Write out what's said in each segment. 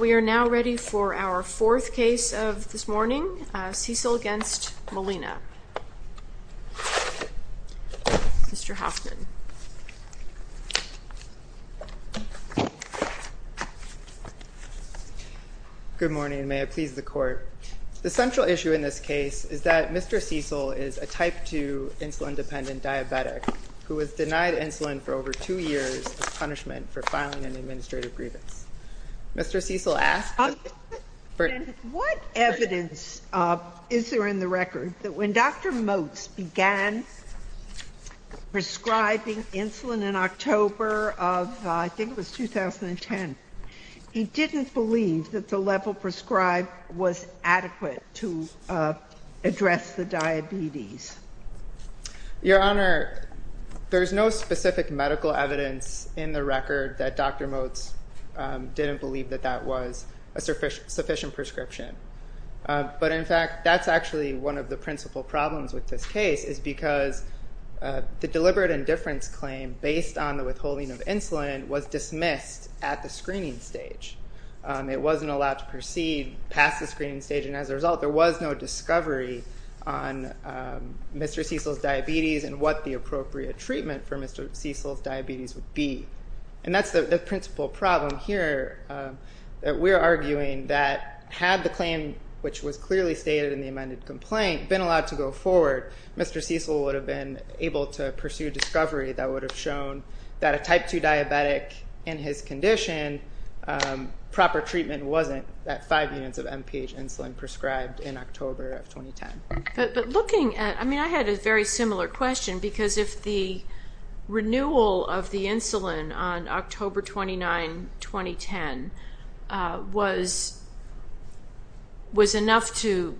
We are now ready for our fourth case of this morning, Cecil v. Molina. Mr. Hoffman. Good morning, and may it please the Court. The central issue in this case is that Mr. Cecil is a type 2 insulin-dependent diabetic who was denied insulin for over two years as punishment for filing an administrative grievance. Mr. Cecil asked... What evidence is there in the record that when Dr. Motes began prescribing insulin in October of, I think it was 2010, he didn't believe that the level prescribed was adequate to address the diabetes? Your Honor, there's no specific medical evidence in the record that Dr. Motes didn't believe that that was a sufficient prescription. But in fact, that's actually one of the principal problems with this case, is because the deliberate indifference claim based on the withholding of insulin was dismissed at the screening stage. It wasn't allowed to proceed past the screening stage, and as a result, there was no discovery on Mr. Cecil's diabetes and what the appropriate treatment for Mr. Cecil's diabetes would be. And that's the principal problem here. We're arguing that had the claim, which was clearly stated in the amended complaint, been allowed to go forward, Mr. Cecil would have been able to pursue discovery that would have shown that a type 2 diabetic in his condition proper treatment wasn't at 5 units of MPH insulin prescribed in October of 2010. But looking at, I mean, I had a very similar question, because if the renewal of the insulin on October 29, 2010, was enough to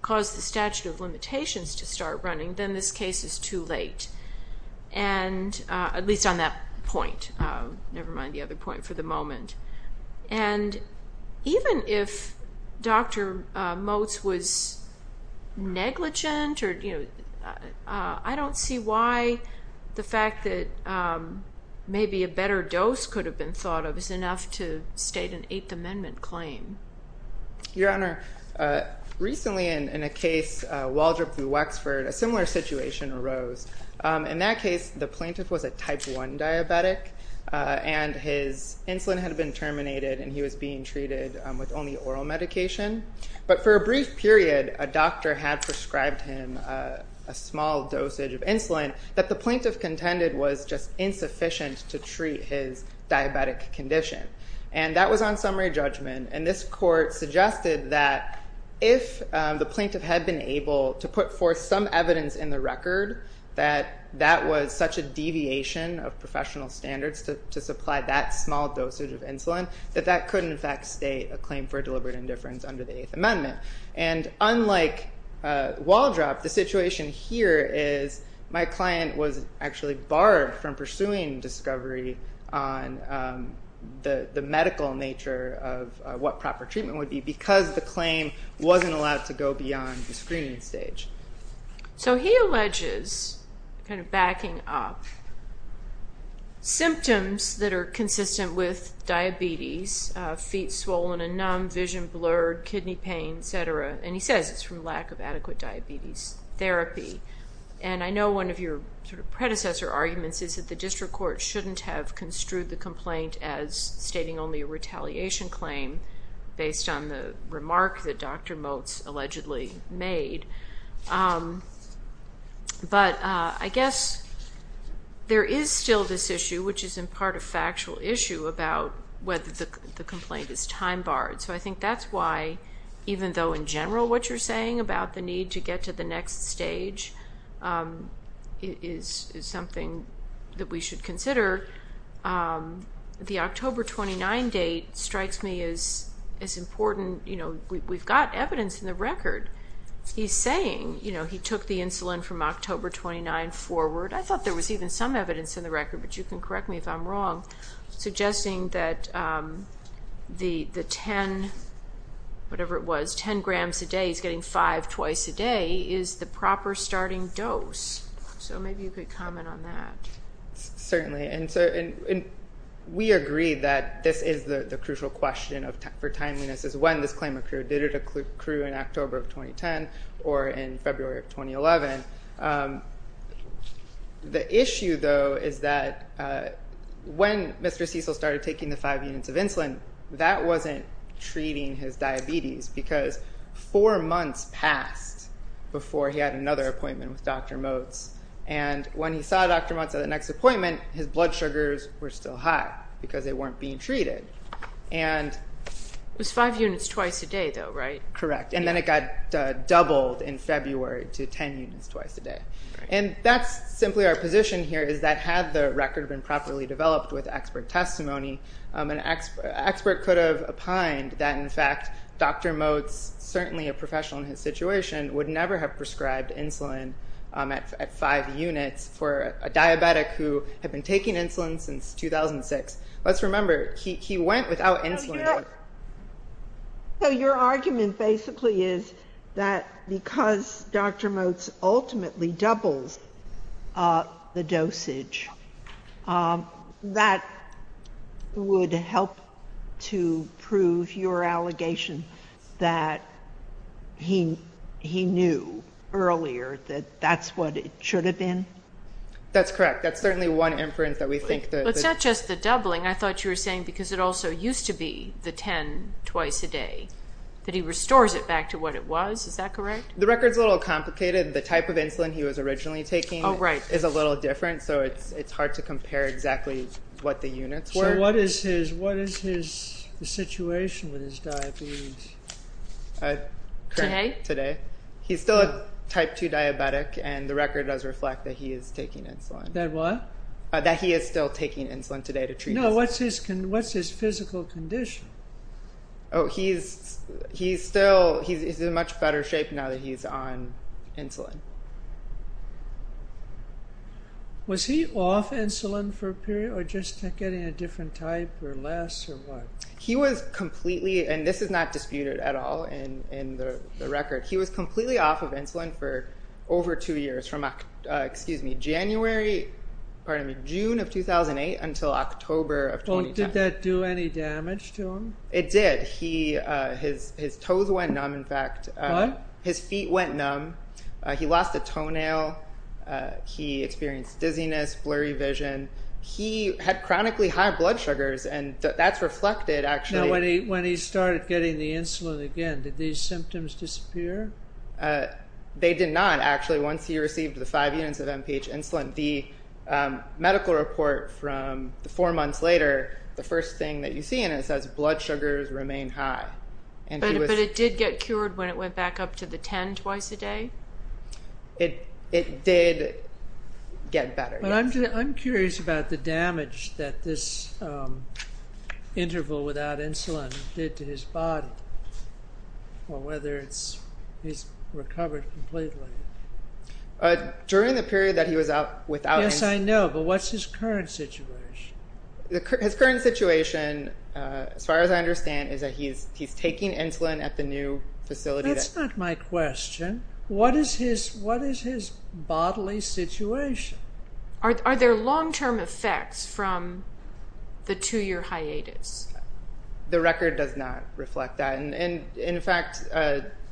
cause the statute of limitations to start running, then this case is too late. At least on that point, never mind the other point for the moment. And even if Dr. Motz was negligent, I don't see why the fact that maybe a better dose could have been thought of is enough to state an Eighth Amendment claim. Your Honor, recently in a case, Waldrop v. Wexford, a similar situation arose. In that case, the plaintiff was a type 1 diabetic and his insulin had been terminated and he was being treated with only oral medication. But for a brief period, a doctor had prescribed him a small dosage of insulin that the plaintiff contended was just insufficient to treat his diabetic condition. And that was on summary judgment. And this court suggested that if the plaintiff had been able to put forth some evidence in the record that that was such a deviation of professional standards to supply that small dosage of insulin, that that could in fact state a claim for deliberate indifference under the Eighth Amendment. And unlike Waldrop, the situation here is my client was actually barred from pursuing discovery on the medical nature of what proper treatment would be because the claim wasn't allowed to go beyond the screening stage. So he alleges, kind of backing up, symptoms that are consistent with diabetes, feet swollen and numb, vision blurred, kidney pain, etc. And he says it's from lack of adequate diabetes therapy. And I know one of your predecessor arguments is that the district court shouldn't have construed the complaint as stating only a retaliation claim based on the remark that Dr. Motz allegedly made. But I guess there is still this issue, which is in part a factual issue, about whether the complaint is time barred. So I think that's why, even though in general what you're saying about the need to get to the next stage is something that we should consider, the October 29 date strikes me as important. We've got evidence in the record. He's saying he took the insulin from October 29 forward. I thought there was even some evidence in the record, but you can correct me if I'm wrong, suggesting that the 10 grams a day, he's getting five twice a day, is the proper starting dose. So maybe you could comment on that. Certainly. And we agree that this is the crucial question for timeliness is when this claim occurred. Did it occur in October of 2010 or in February of 2011? The issue, though, is that when Mr. Cecil started taking the five units of insulin, that wasn't treating his diabetes because four months passed before he had another appointment with Dr. Motz. And when he saw Dr. Motz at the next appointment, his blood sugars were still high because they weren't being treated. It was five units twice a day, though, right? Correct. And then it got doubled in February to 10 units twice a day. And that's simply our position here is that had the record been properly developed with expert testimony, an expert could have opined that, in fact, Dr. Motz, certainly a professional in his situation, would never have prescribed insulin at five units for a diabetic who had been taking insulin since 2006. Let's remember, he went without insulin. So your argument basically is that because Dr. Motz ultimately doubles the dosage, that would help to prove your allegation that he knew earlier that that's what it should have been? That's correct. That's certainly one inference that we think. It's not just the doubling. I thought you were saying because it also used to be the 10 twice a day, that he restores it back to what it was. Is that correct? The record's a little complicated. The type of insulin he was originally taking is a little different, so it's hard to compare exactly what the units were. So what is his situation with his diabetes? Today? Today. He's still a type 2 diabetic, and the record does reflect that he is taking insulin. That what? That he is still taking insulin today to treat his diabetes. No, what's his physical condition? Oh, he's in much better shape now that he's on insulin. Was he off insulin for a period, or just getting a different type, or less, or what? He was completely, and this is not disputed at all in the record, he was completely off of insulin for over two years from January, pardon me, June of 2008 until October of 2010. Did that do any damage to him? It did. His toes went numb, in fact. What? His feet went numb. He lost a toenail. He experienced dizziness, blurry vision. He had chronically high blood sugars, and that's reflected, actually. When he started getting the insulin again, did these symptoms disappear? They did not, actually. Once he received the five units of MPH insulin, the medical report from four months later, the first thing that you see in it says blood sugars remain high. But it did get cured when it went back up to the 10 twice a day? It did get better. But I'm curious about the damage that this interval without insulin did to his body, or whether he's recovered completely. During the period that he was without insulin? Yes, I know, but what's his current situation? His current situation, as far as I understand, is that he's taking insulin at the new facility. That's not my question. What is his bodily situation? Are there long-term effects from the two-year hiatus? The record does not reflect that. In fact,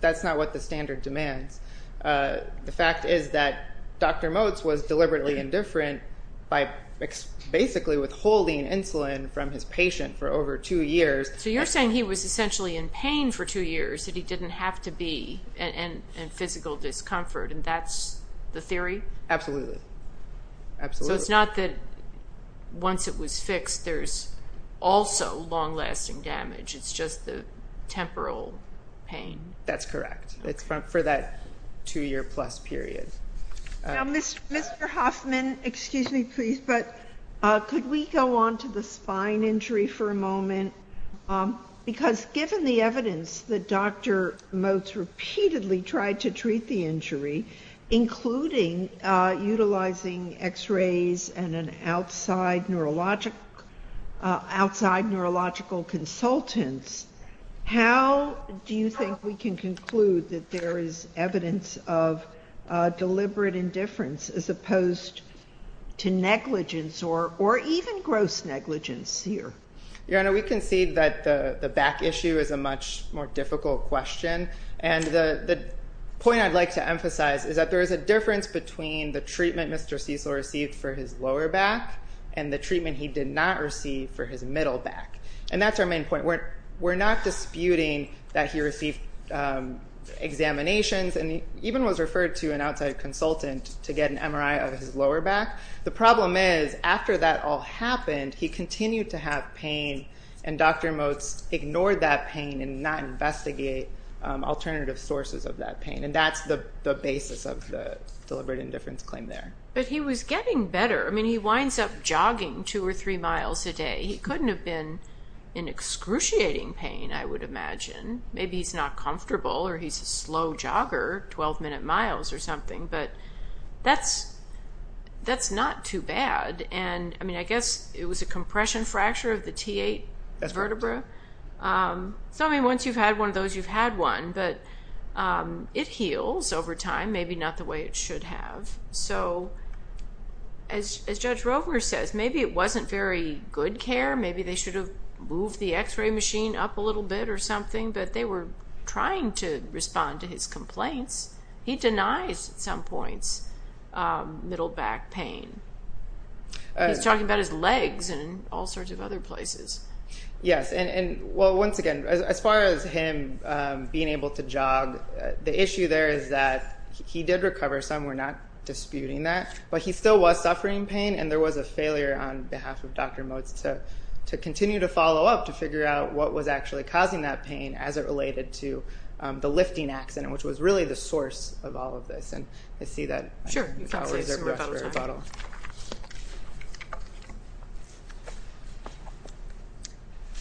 that's not what the standard demands. The fact is that Dr. Motz was deliberately indifferent by basically withholding insulin from his patient for over two years. So you're saying he was essentially in pain for two years, that he didn't have to be in physical discomfort, and that's the theory? Absolutely. So it's not that once it was fixed there's also long-lasting damage. It's just the temporal pain. That's correct. It's for that two-year-plus period. Now, Mr. Hoffman, could we go on to the spine injury for a moment? Because given the evidence that Dr. Motz repeatedly tried to treat the injury, including utilizing X-rays and outside neurological consultants, how do you think we can conclude that there is evidence of deliberate indifference as opposed to negligence or even gross negligence here? Your Honor, we concede that the back issue is a much more difficult question. And the point I'd like to emphasize is that there is a difference between the treatment Mr. Cecil received for his lower back and the treatment he did not receive for his middle back. And that's our main point. We're not disputing that he received examinations and even was referred to an outside consultant to get an MRI of his lower back. The problem is, after that all happened, he continued to have pain, and Dr. Motz ignored that pain and did not investigate alternative sources of that pain. And that's the basis of the deliberate indifference claim there. But he was getting better. I mean, he winds up jogging two or three miles a day. He couldn't have been in excruciating pain, I would imagine. Maybe he's not comfortable or he's a slow jogger, 12-minute miles or something. But that's not too bad. And, I mean, I guess it was a compression fracture of the T8 vertebra. So, I mean, once you've had one of those, you've had one. But it heals over time, maybe not the way it should have. So, as Judge Rovner says, maybe it wasn't very good care. Maybe they should have moved the x-ray machine up a little bit or something. But they were trying to respond to his complaints. He denies, at some points, middle back pain. He's talking about his legs and all sorts of other places. Yes, and, well, once again, as far as him being able to jog, the issue there is that he did recover. Some were not disputing that. But he still was suffering pain. And there was a failure on behalf of Dr. Motes to continue to follow up, to figure out what was actually causing that pain as it related to the lifting accident, which was really the source of all of this. And I see that. Sure. You can't say so without a title.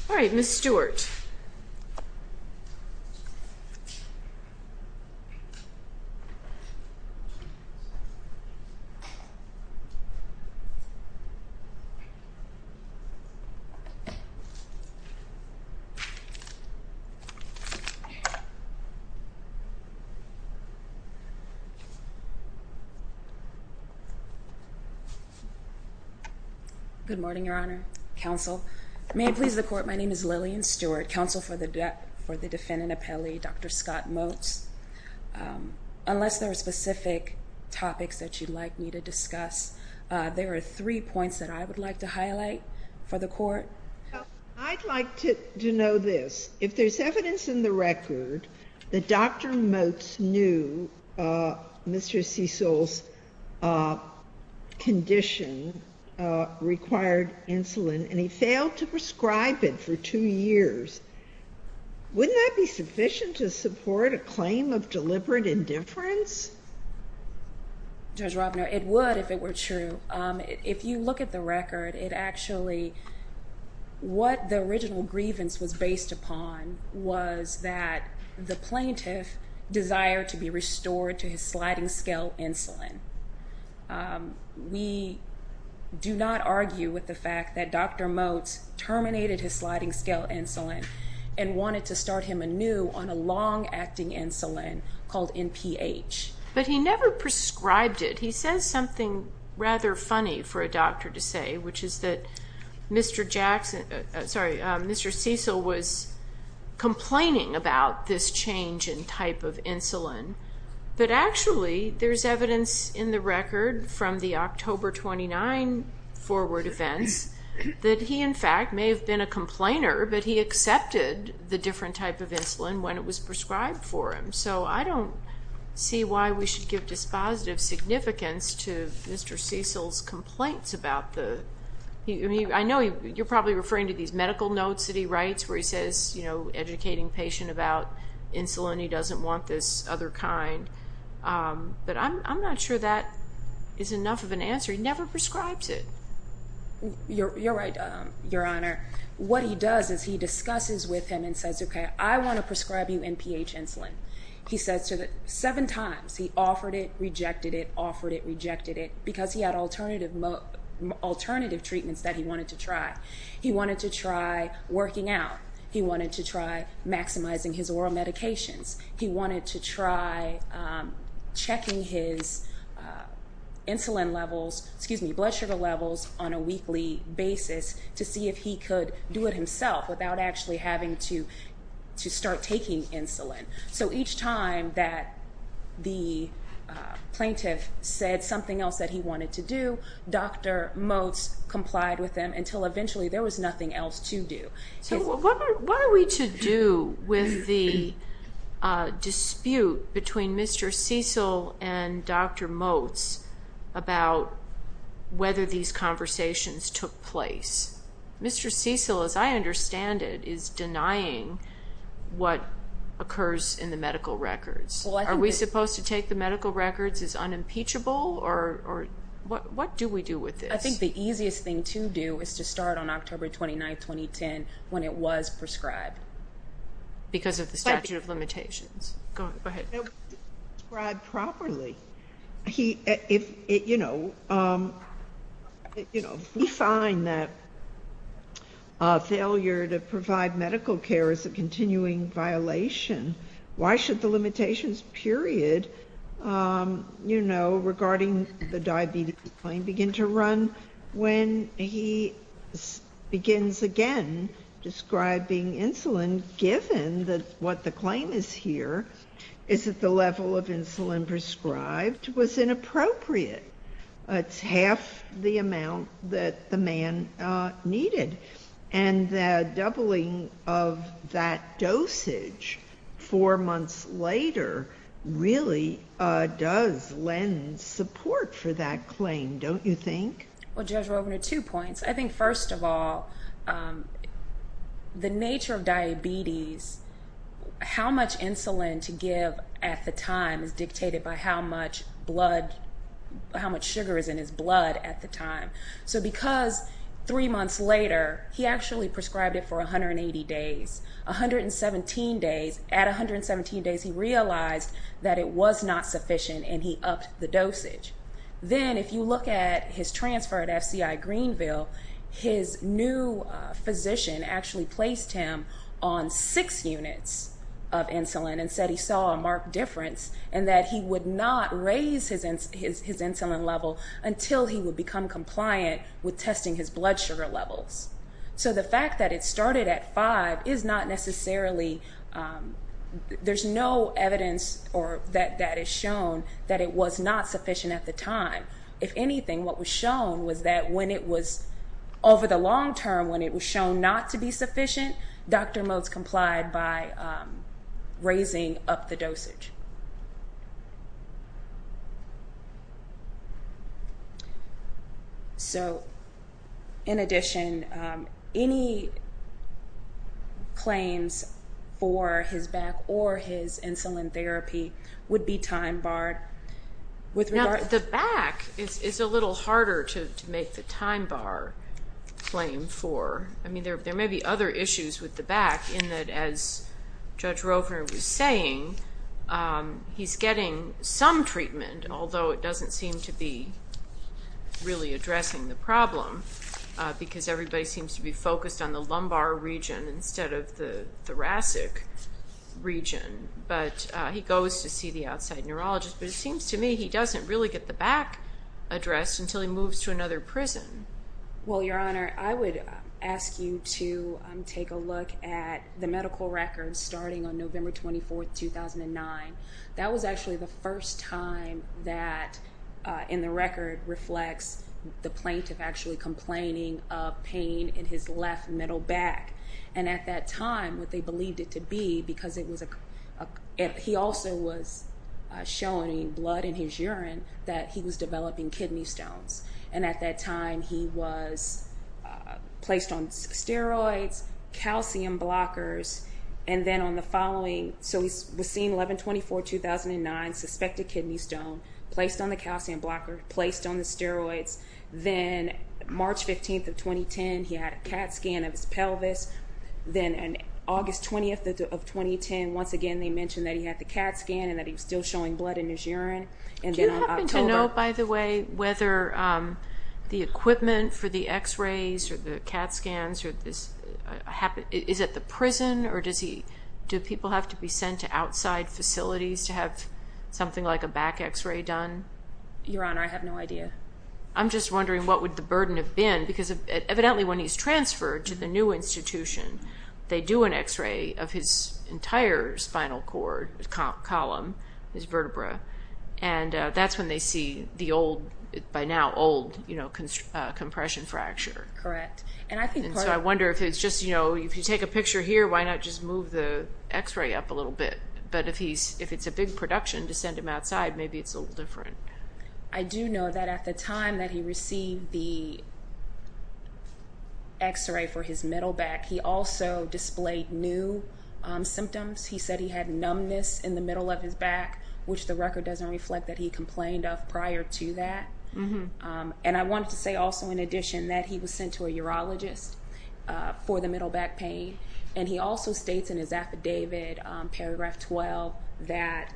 All right. Ms. Stewart. Good morning, Your Honor, counsel. May it please the court, my name is Lillian Stewart, counsel for the defendant appellee, Dr. Scott Motes. Unless there are specific topics that you'd like me to discuss, there are three points that I would like to highlight for the court. I'd like to know this. If there's evidence in the record that Dr. Motes knew Mr. Cecil's condition required insulin and he failed to prescribe it for two years, wouldn't that be sufficient to support a claim of deliberate indifference? Judge Robner, it would if it were true. If you look at the record, it actually, what the original grievance was based upon was that the plaintiff desired to be restored to his sliding scale insulin. We do not argue with the fact that Dr. Motes terminated his sliding scale insulin and wanted to start him anew on a long-acting insulin called NPH. But he never prescribed it. He says something rather funny for a doctor to say, which is that Mr. Cecil was complaining about this change in type of insulin, but actually there's evidence in the record from the October 29 forward events that he, in fact, may have been a complainer, but he accepted the different type of insulin when it was prescribed for him. So I don't see why we should give dispositive significance to Mr. Cecil's complaints about the, I know you're probably referring to these medical notes that he writes where he says, you know, educating patient about insulin, he doesn't want this other kind. But I'm not sure that is enough of an answer. He never prescribes it. You're right, Your Honor. What he does is he discusses with him and says, okay, I want to prescribe you NPH insulin. He says seven times he offered it, rejected it, offered it, rejected it, because he had alternative treatments that he wanted to try. He wanted to try working out. He wanted to try maximizing his oral medications. He wanted to try checking his insulin levels, excuse me, blood sugar levels on a weekly basis to see if he could do it himself without actually having to start taking insulin. So each time that the plaintiff said something else that he wanted to do, Dr. Motz complied with them until eventually there was nothing else to do. So what are we to do with the dispute between Mr. Cecil and Dr. Motz about whether these conversations took place? Mr. Cecil, as I understand it, is denying what occurs in the medical records. Are we supposed to take the medical records as unimpeachable, or what do we do with this? I think the easiest thing to do is to start on October 29, 2010, when it was prescribed. Because of the statute of limitations. Go ahead. Describe properly. If we find that failure to provide medical care is a continuing violation, why should the limitations period regarding the diabetes claim begin to run When he begins again describing insulin, given that what the claim is here is that the level of insulin prescribed was inappropriate. It's half the amount that the man needed. And the doubling of that dosage four months later really does lend support for that claim, don't you think? Well, Judge, we're open to two points. I think, first of all, the nature of diabetes, how much insulin to give at the time is dictated by how much sugar is in his blood at the time. So because three months later, he actually prescribed it for 180 days, at 117 days he realized that it was not sufficient and he upped the dosage. Then if you look at his transfer at FCI Greenville, his new physician actually placed him on six units of insulin and said he saw a marked difference and that he would not raise his insulin level until he would become compliant with testing his blood sugar levels. So the fact that it started at five is not necessarily, there's no evidence that is shown that it was not sufficient at the time. If anything, what was shown was that when it was over the long term, when it was shown not to be sufficient, Dr. Motz complied by raising up the dosage. So, in addition, any claims for his back or his insulin therapy would be time barred? Now, the back is a little harder to make the time bar claim for. I mean, there may be other issues with the back in that, as Judge Roper was saying, he's getting some treatment, although it doesn't seem to be really addressing the problem because everybody seems to be focused on the lumbar region instead of the thoracic region. But he goes to see the outside neurologist, but it seems to me he doesn't really get the back addressed until he moves to another prison. Well, Your Honor, I would ask you to take a look at the medical records starting on November 24, 2009. That was actually the first time that, in the record, reflects the plaintiff actually complaining of pain in his left middle back. And at that time, what they believed it to be, because he also was showing blood in his urine, that he was developing kidney stones. And at that time, he was placed on steroids, calcium blockers, and then on the following. So he was seen 11-24-2009, suspected kidney stone, placed on the calcium blocker, placed on the steroids. Then March 15th of 2010, he had a CAT scan of his pelvis. Then on August 20th of 2010, once again, they mentioned that he had the CAT scan and that he was still showing blood in his urine. Do you happen to know, by the way, whether the equipment for the x-rays or the CAT scans is at the prison? Or do people have to be sent to outside facilities to have something like a back x-ray done? Your Honor, I have no idea. I'm just wondering what would the burden have been, because evidently when he's transferred to the new institution, they do an x-ray of his entire spinal cord column, his vertebrae. And that's when they see the old, by now old, compression fracture. Correct. And so I wonder if it's just, you know, if you take a picture here, why not just move the x-ray up a little bit? But if it's a big production to send him outside, maybe it's a little different. I do know that at the time that he received the x-ray for his middle back, he also displayed new symptoms. He said he had numbness in the middle of his back, which the record doesn't reflect that he complained of prior to that. And I wanted to say also, in addition, that he was sent to a urologist for the middle back pain. And he also states in his affidavit, paragraph 12, that,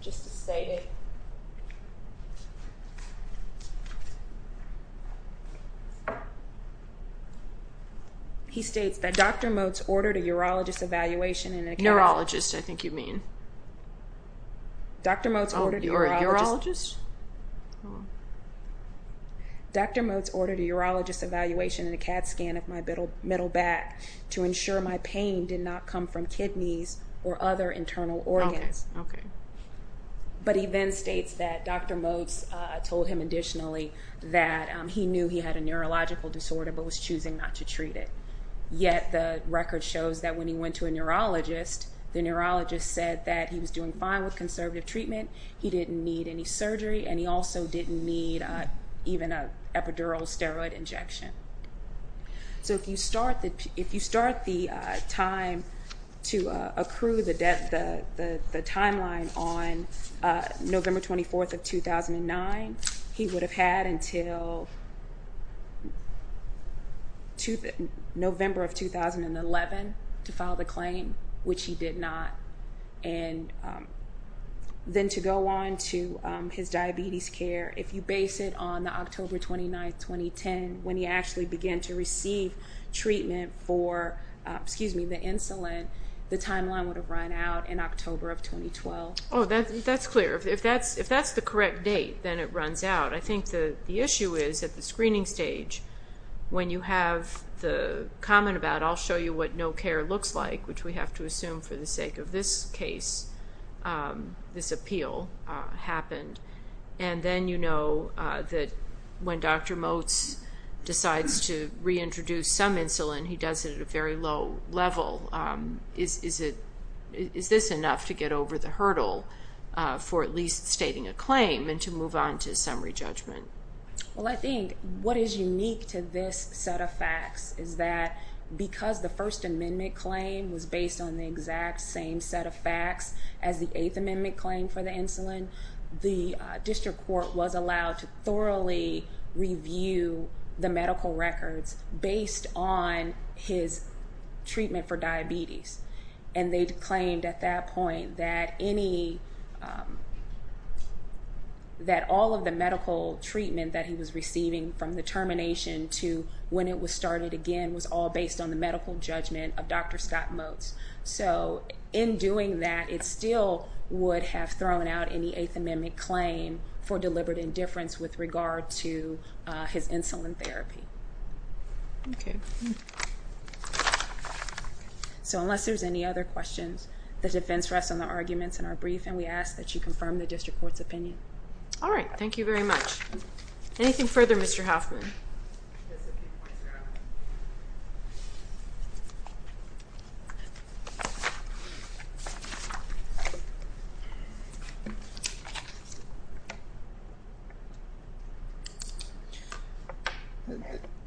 just to state it, he states that Dr. Motes ordered a urologist evaluation and a CAT scan. Urologist, I think you mean. Dr. Motes ordered a urologist. Oh, you're a urologist? Dr. Motes ordered a urologist evaluation and a CAT scan of my middle back to ensure my pain did not come from kidneys or other internal organs. Okay. But he then states that Dr. Motes told him additionally that he knew he had a neurological disorder but was choosing not to treat it. Yet the record shows that when he went to a neurologist, the neurologist said that he was doing fine with conservative treatment, he didn't need any surgery, and he also didn't need even an epidural steroid injection. So if you start the time to accrue the timeline on November 24th of 2009, he would have had until November of 2011 to file the claim, which he did not. And then to go on to his diabetes care, if you base it on the October 29th, 2010, when he actually began to receive treatment for the insulin, the timeline would have run out in October of 2012. Oh, that's clear. If that's the correct date, then it runs out. I think the issue is at the screening stage, when you have the comment about, I'll show you what no care looks like, which we have to assume for the sake of this case, this appeal happened, and then you know that when Dr. Motes decides to reintroduce some insulin, he does it at a very low level. Is this enough to get over the hurdle for at least stating a claim and to move on to summary judgment? Well, I think what is unique to this set of facts is that because the First Amendment claim was based on the exact same set of facts as the Eighth Amendment claim for the insulin, the district court was allowed to thoroughly review the medical records based on his treatment for diabetes, and they claimed at that point that all of the medical treatment that he was receiving from the termination to when it was started again was all based on the medical judgment of Dr. Scott Motes. So in doing that, it still would have thrown out any Eighth Amendment claim for deliberate indifference with regard to his insulin therapy. Okay. So unless there's any other questions, the defense rests on the arguments in our brief, and we ask that you confirm the district court's opinion. All right. Thank you very much. Anything further, Mr. Hoffman?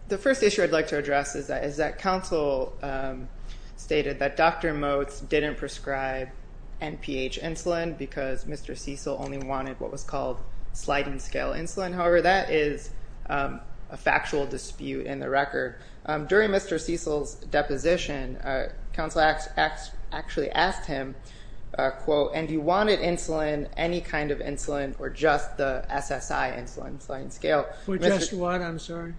The first issue I'd like to address is that counsel stated that Dr. Motes didn't prescribe NPH insulin because Mr. Cecil only wanted what was called sliding-scale insulin. However, that is a factual dispute in the record. During Mr. Cecil's deposition, counsel actually asked him, and he wanted insulin, any kind of insulin, or just the SSI insulin, sliding-scale. Or just what? I'm sorry.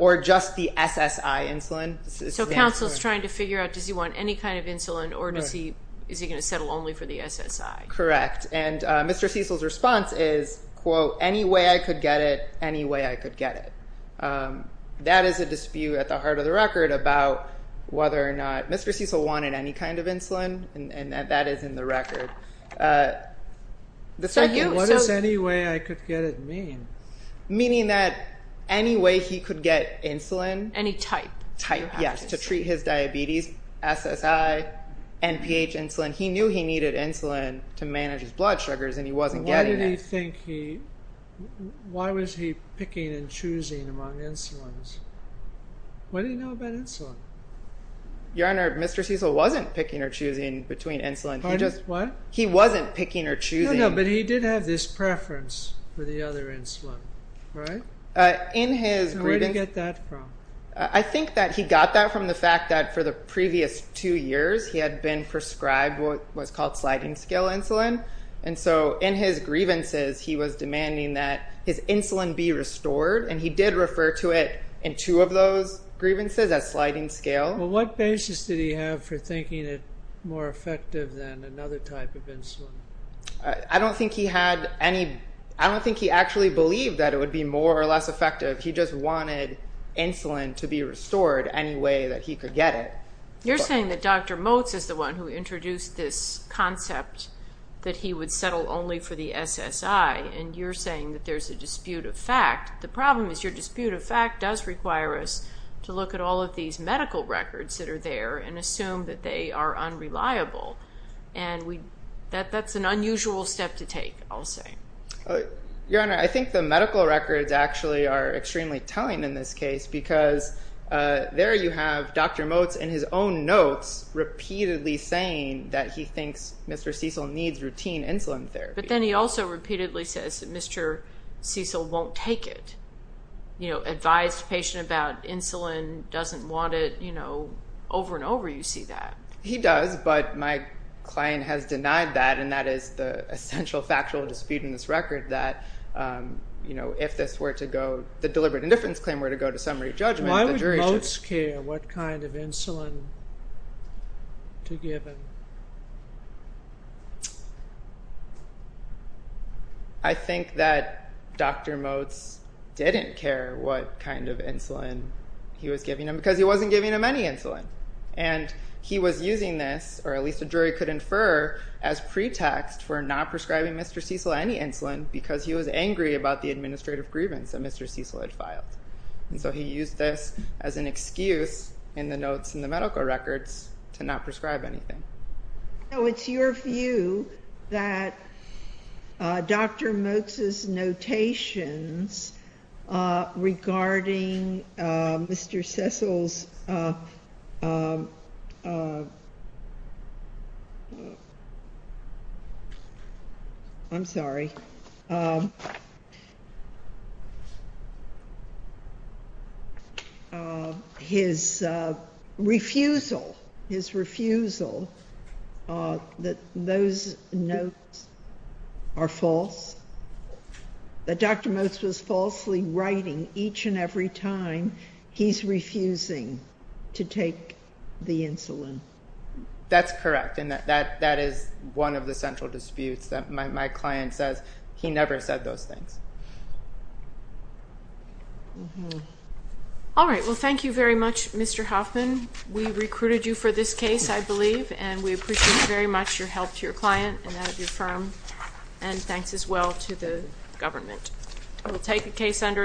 Or just the SSI insulin. So counsel is trying to figure out does he want any kind of insulin, or is he going to settle only for the SSI? Correct. And Mr. Cecil's response is, quote, any way I could get it, any way I could get it. That is a dispute at the heart of the record about whether or not Mr. Cecil wanted any kind of insulin, and that is in the record. So what does any way I could get it mean? Meaning that any way he could get insulin. Any type. Type, yes, to treat his diabetes, SSI, NPH insulin. He knew he needed insulin to manage his blood sugars, and he wasn't getting it. Why was he picking and choosing among insulins? What do you know about insulin? Your Honor, Mr. Cecil wasn't picking or choosing between insulins. What? He wasn't picking or choosing. No, no, but he did have this preference for the other insulin, right? So where did he get that from? I think that he got that from the fact that for the previous two years, he had been prescribed what was called sliding-scale insulin, and so in his grievances he was demanding that his insulin be restored, and he did refer to it in two of those grievances as sliding-scale. Well, what basis did he have for thinking it more effective than another type of insulin? I don't think he actually believed that it would be more or less effective. He just wanted insulin to be restored any way that he could get it. You're saying that Dr. Motz is the one who introduced this concept that he would settle only for the SSI, and you're saying that there's a dispute of fact. The problem is your dispute of fact does require us to look at all of these medical records that are there and assume that they are unreliable, and that's an unusual step to take, I'll say. Your Honor, I think the medical records actually are extremely telling in this case because there you have Dr. Motz in his own notes repeatedly saying that he thinks Mr. Cecil needs routine insulin therapy. But then he also repeatedly says that Mr. Cecil won't take it. You know, advised patient about insulin, doesn't want it. You know, over and over you see that. He does, but my client has denied that, and that is the essential factual dispute in this record, that if the deliberate indifference claim were to go to summary judgment, the jury should... I think that Dr. Motz didn't care what kind of insulin he was giving him because he wasn't giving him any insulin. And he was using this, or at least a jury could infer, as pretext for not prescribing Mr. Cecil any insulin because he was angry about the administrative grievance that Mr. Cecil had filed. And so he used this as an excuse in the notes in the medical records to not prescribe anything. So it's your view that Dr. Motz's notations regarding Mr. Cecil's... I'm sorry. His refusal, his refusal, that those notes are false? That Dr. Motz was falsely writing each and every time he's refusing to take the insulin? That's correct, and that is one of the central disputes that my client says. He never said those things. All right, well, thank you very much, Mr. Hoffman. We recruited you for this case, I believe, and we appreciate very much your help to your client and that of your firm, and thanks as well to the government. I will take the case under advisement.